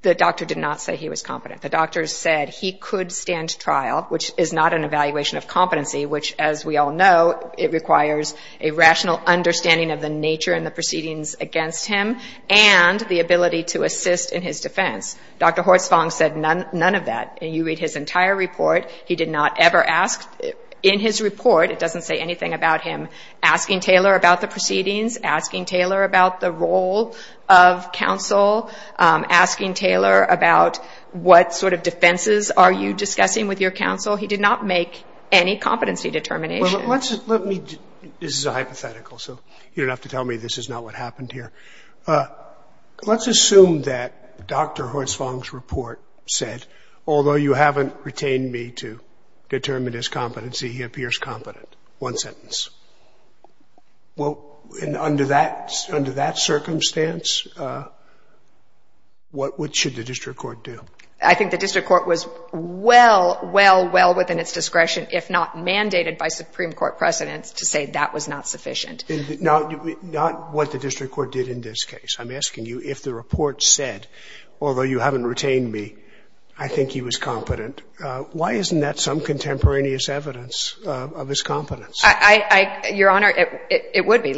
The doctor did not say he was competent. The doctor said he could stand trial, which is not an evaluation of competency, which, as we all know, it requires a rational understanding of the nature and the proceedings against him and the ability to assist in his defense. Dr. Hortzfang said none of that. You read his entire report. He did not ever ask in his report, it doesn't say anything about him, asking Taylor about the proceedings, asking Taylor about the role of counsel, asking Taylor about what sort of defenses are you discussing with your counsel. He did not make any competency determination. This is a hypothetical, so you don't have to tell me this is not what happened here. Let's assume that Dr. Hortzfang's report said although you haven't retained me to determine his competency, he appears competent. One sentence. Under that circumstance, what should the district court do? I think the district court was well, well, well within its discretion, if not mandated by Supreme Court precedents, to say that was not sufficient. Not what the district court did in this case. I'm asking you if the report said although you haven't retained me, I think he was competent. Why isn't that some contemporaneous evidence of his competence? Your Honor, it would be.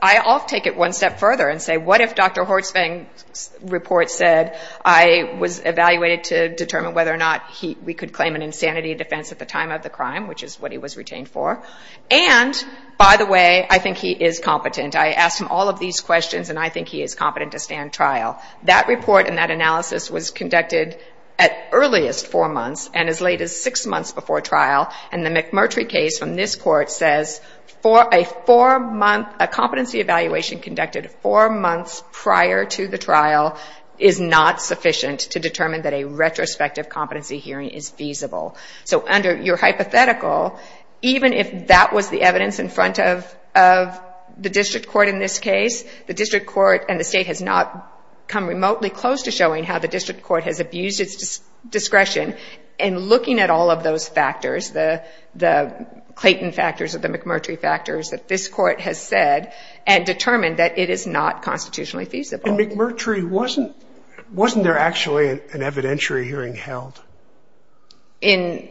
I'll take it one step further and say what if Dr. Hortzfang's report said I was evaluated to determine whether or not we could claim an insanity defense at the time of the crime, which is what he was retained for, and by the way, I think he is competent. I asked him all of these questions and I think he is competent to stand trial. That report and that analysis was conducted at earliest four months and as late as six months before trial, and the McMurtry case from this court says a competency evaluation conducted four months prior to the trial is not sufficient to determine that a retrospective competency hearing is feasible. So under your hypothetical, even if that was the evidence in front of the district court in this case, the district court and the state has not come remotely close to showing how the district court has abused its discretion in looking at all of those factors, the Clayton factors or the McMurtry factors that this court has said and determined that it is not constitutionally feasible. And McMurtry, wasn't there actually an evidentiary hearing held in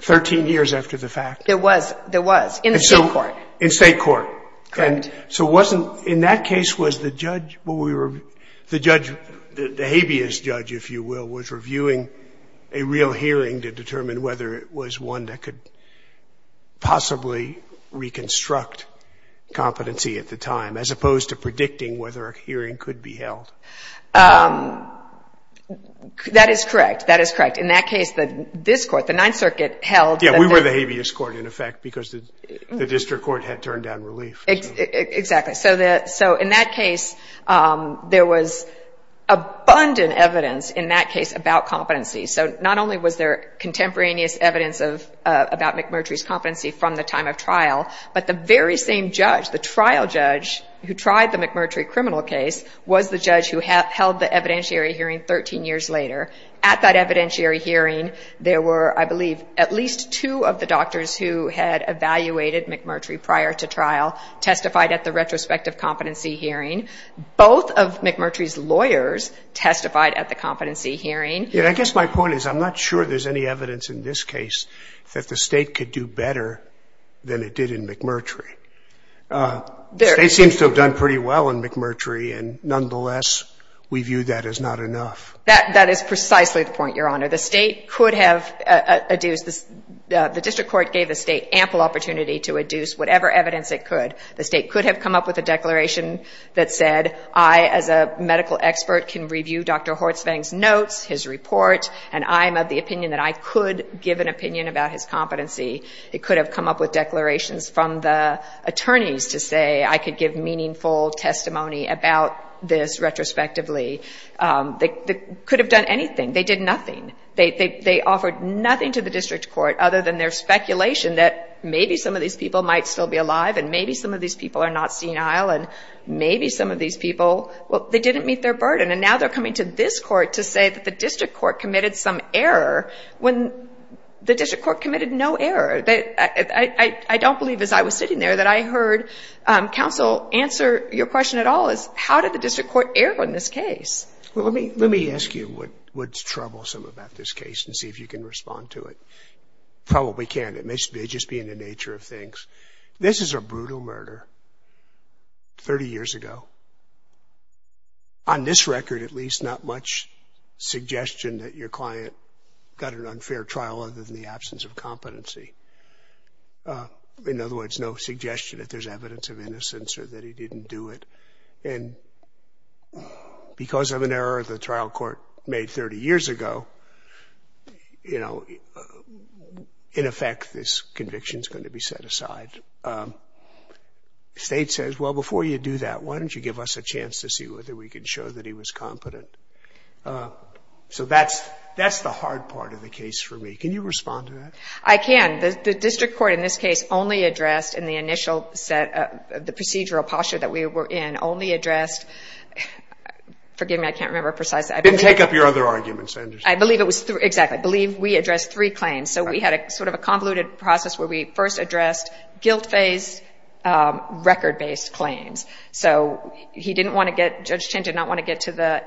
13 years after the fact? There was. There was. In the state court. In state court. Correct. So wasn't, in that case, was the judge the judge the habeas judge, if you will, was reviewing a real hearing to determine whether it was one that could possibly reconstruct competency at the time, as opposed to predicting whether a hearing could be held? That is correct. That is correct. In that case, this court, the Ninth Circuit, held Yeah, we were the habeas court in effect because the district court had turned down relief. Exactly. So in that case, there was abundant evidence in that case about competency. So not only was there contemporaneous evidence about McMurtry's competency from the time of trial, but the very same judge, the trial judge who tried the McMurtry criminal case was the judge who held the evidentiary hearing 13 years later. At that evidentiary hearing, there were, I believe, at least two of the doctors who had evaluated McMurtry prior to trial testified at the retrospective competency hearing. Both of McMurtry's lawyers testified at the competency hearing. Yeah, I guess my point is I'm not sure there's any evidence in this case that the state could do better than it did in McMurtry. The state seems to have done pretty well in McMurtry, and nonetheless, we view that as not enough. That is precisely the point, Your Honor. The state could have adduced, the district court gave the state ample opportunity to adduce whatever evidence it could. The state could have come up with a declaration that said I, as a medical expert, can review Dr. Hortzvang's notes, his report, and I'm of the opinion about his competency. It could have come up with declarations from the attorneys to say I could give meaningful testimony about this retrospectively. They could have done anything. They did nothing. They offered nothing to the district court other than their speculation that maybe some of these people might still be alive, and maybe some of these people are not senile, and maybe some of these people, well, they didn't meet their burden. And now they're coming to this court to say that the district court committed some error when the district court committed no error. I don't believe as I was sitting there that I heard counsel answer your question at all is how did the district court err on this case? Let me ask you what's troublesome about this case and see if you can respond to it. Probably can't. It may just be in the nature of things. This is a brutal murder 30 years ago. On this record, at least, not much suggestion that your client got an unfair trial other than the absence of competency. In other words, no suggestion that there's evidence of innocence or that he didn't do it. And because of an error the trial court made 30 years ago, you know, in effect, this conviction is going to be set aside. State says, well, before you do that, why don't you give us a chance to see whether we can show that he was competent? So that's the hard part of the case for me. Can you respond to that? I can. The district court in this case only addressed in the initial set of the procedural posture that we were in only addressed forgive me, I can't remember precisely. Didn't take up your other arguments, I understand. Exactly. I believe we addressed three claims. So we had sort of a convoluted process where we first addressed guilt-based record-based claims. So he didn't want to get Judge Chin did not want to get to the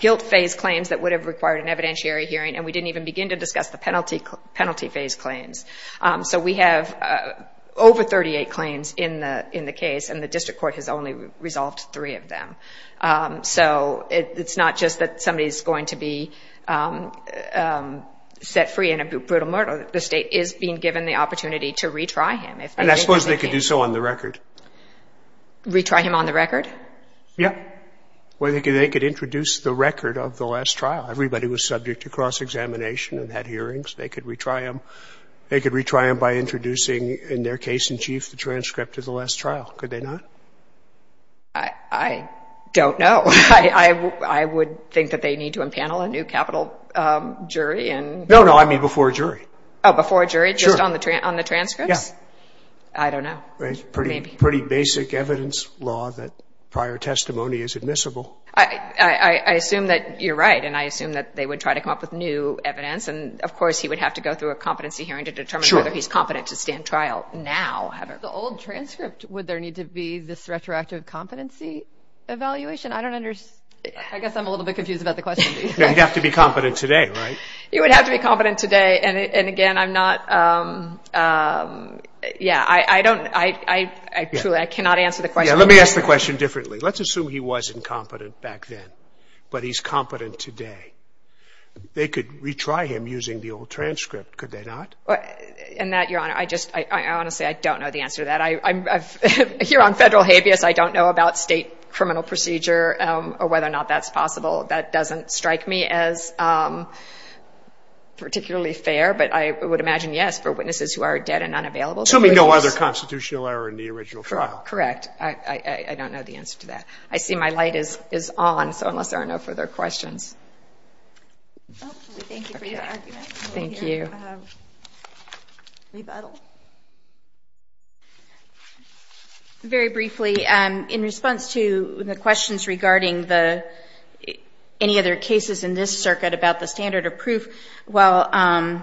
guilt-phase claims that would have required an evidentiary hearing and we didn't even begin to discuss the penalty-phase claims. So we have over 38 claims in the case and the district court has only resolved three of them. So it's not just that somebody is going to be set free in a brutal murder. The state is being given the opportunity to retry him. And I suppose they could do so on the record. Retry him on the record? Yeah. Well, they could introduce the record of the last trial. Everybody was subject to cross-examination and had hearings. They could retry him. They could retry him by introducing in their case in chief the transcript of the last trial. Could they not? I don't know. I would think that they need to impanel a new capital jury. No, no, I mean before a jury. Oh, before a jury, just on the transcripts? Yeah. I don't know. Pretty basic evidence law that prior testimony is admissible. I assume that you're right and I assume that they would try to come up with new evidence and of course he would have to go through a competency hearing to determine whether he's competent to stand trial now. The old transcript, would there need to be this retroactive competency evaluation? I don't understand. I guess I'm a little bit confused about the question. He'd have to be competent today, right? He would have to be competent today and again I'm not yeah, I don't truly, I cannot answer the question. Let me ask the question differently. Let's assume he was incompetent back then, but he's competent today. They could retry him using the old transcript, could they not? In that, Your Honor, I honestly don't know the answer to that. Here on federal habeas, I don't know about state criminal procedure or whether or not that's possible. That doesn't strike me as particularly fair, but I would imagine yes for witnesses who are dead and unavailable. Assuming no other constitutional error in the original trial. Correct. I don't know the answer to that. I see my light is on, so unless there are no further questions. Thank you for your argument. Thank you. Rebuttal. Very briefly, in response to the questions regarding the any other cases in this circuit about the standard of proof, while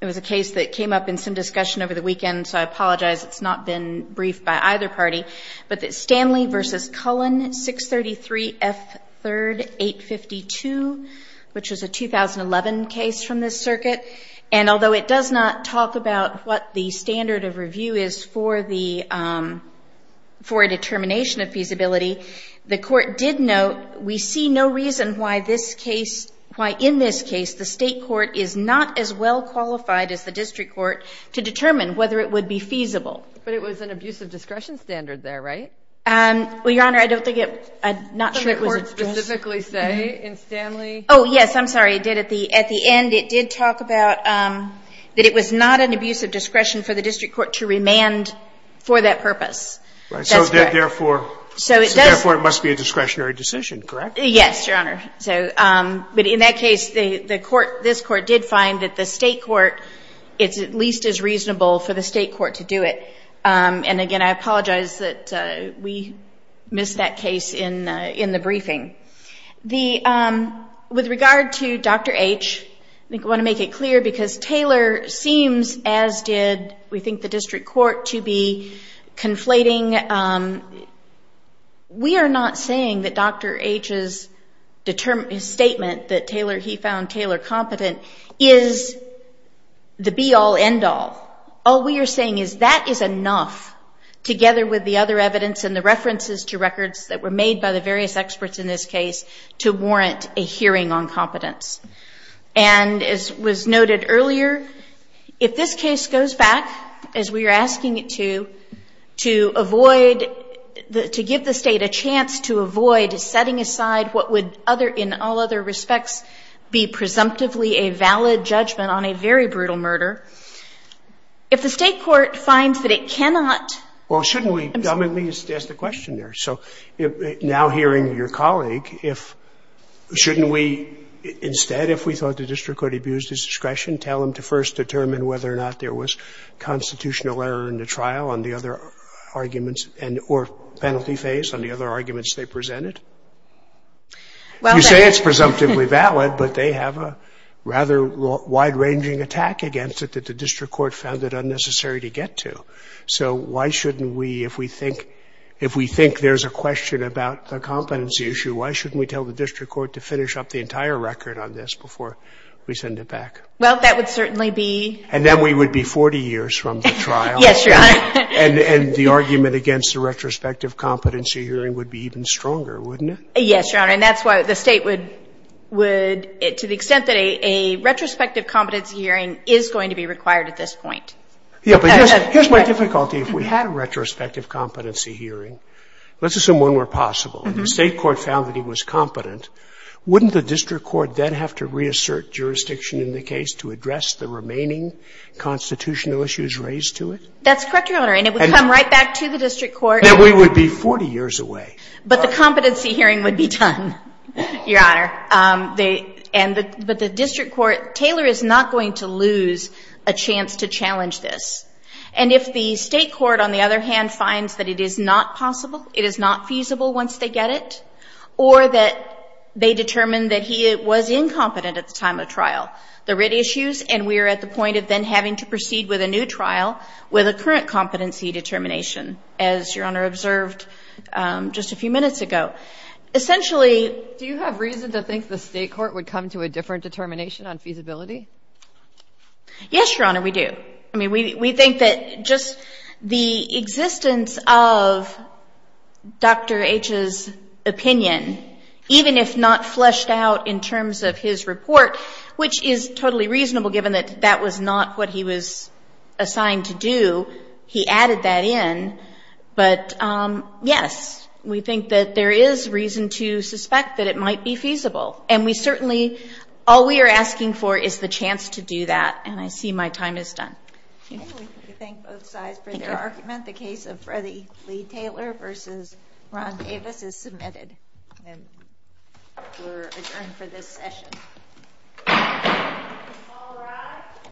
it was a case that came up in some discussion over the weekend, so I apologize it's not been briefed by either party, but that Stanley v. Cullen, 633 F 3rd 852, which was a 2011 case from this circuit, and although it does not talk about what the standard of review is for the determination of feasibility, the court did note we see no reason why in this case the State court is not as well qualified as the district court to determine whether it would be feasible. But it was an abuse of discretion standard there, right? Well, Your Honor, I don't think it I'm not sure it was addressed. Did the court specifically say in Stanley? Oh, yes. I'm sorry. It did at the end. It did talk about that it was not an abuse of discretion for the district court to remand for that purpose. That's correct. So therefore it must be a discretionary decision, correct? Yes, Your Honor. But in that case, this court did find that the State court is at least as reasonable for the State court to do it. And again, I apologize that we missed that case in the briefing. With regard to Dr. H, I want to make it clear because Taylor seems as did, we think, the district court to be conflating We are not saying that Dr. H's statement that he found Taylor competent is the be-all, end-all. All we are saying is that is enough, together with the other evidence and the references to records that were made by the various experts in this case to warrant a hearing on competence. And as was noted earlier, if this case goes back as we are asking it to, to avoid to give the State a chance to avoid setting aside what would in all other respects be presumptively a valid judgment on a very brutal murder, if the State court finds that it cannot Well, shouldn't we at least ask the question there? Now hearing your colleague, shouldn't we instead, if we thought the district court abused his discretion, tell him to first determine whether or not there was a constitutional error in the trial on the other arguments or penalty phase on the other arguments they presented? You say it's presumptively valid, but they have a rather wide-ranging attack against it that the district court found it unnecessary to get to. So why shouldn't we, if we think there's a question about the competency issue, why shouldn't we tell the district court to finish up the entire record on this before we send it back? Well, that would certainly be And then we would be 40 years from the trial Yes, Your Honor. And the argument against the retrospective competency hearing would be even stronger, wouldn't it? Yes, Your Honor, and that's why the State would to the extent that a retrospective competency hearing is going to be required at this point. Yeah, but here's my difficulty. If we had a retrospective competency hearing, let's assume one were possible, and the State court found that he was competent, wouldn't the district court then have to reassert jurisdiction in the case to address the remaining constitutional issues raised to it? That's correct, Your Honor, and it would come right back to the district court. Then we would be 40 years away. But the competency hearing would be done, Your Honor. But the district court Taylor is not going to lose a chance to challenge this. And if the State court, on the other hand, finds that it is not possible, it is not feasible once they get it, or that they determine that he was incompetent at the time of trial. The writ issues, and we are at the point of then having to proceed with a new trial with a current competency determination, as Your Honor observed just a few minutes ago. Essentially... Do you have reason to think the State court would come to a different determination on feasibility? Yes, Your Honor, we do. I mean, we think that just the existence of Dr. H's opinion, even if not fleshed out in terms of his report, which is totally reasonable given that that was not what he was assigned to do, he added that in, but yes, we think that there is reason to suspect that it might be feasible. And we certainly all we are asking for is the chance to do that. And I see my time is done. Thank you. The case of Freddie Lee Taylor versus Ron Davis is submitted. We are adjourned for this session.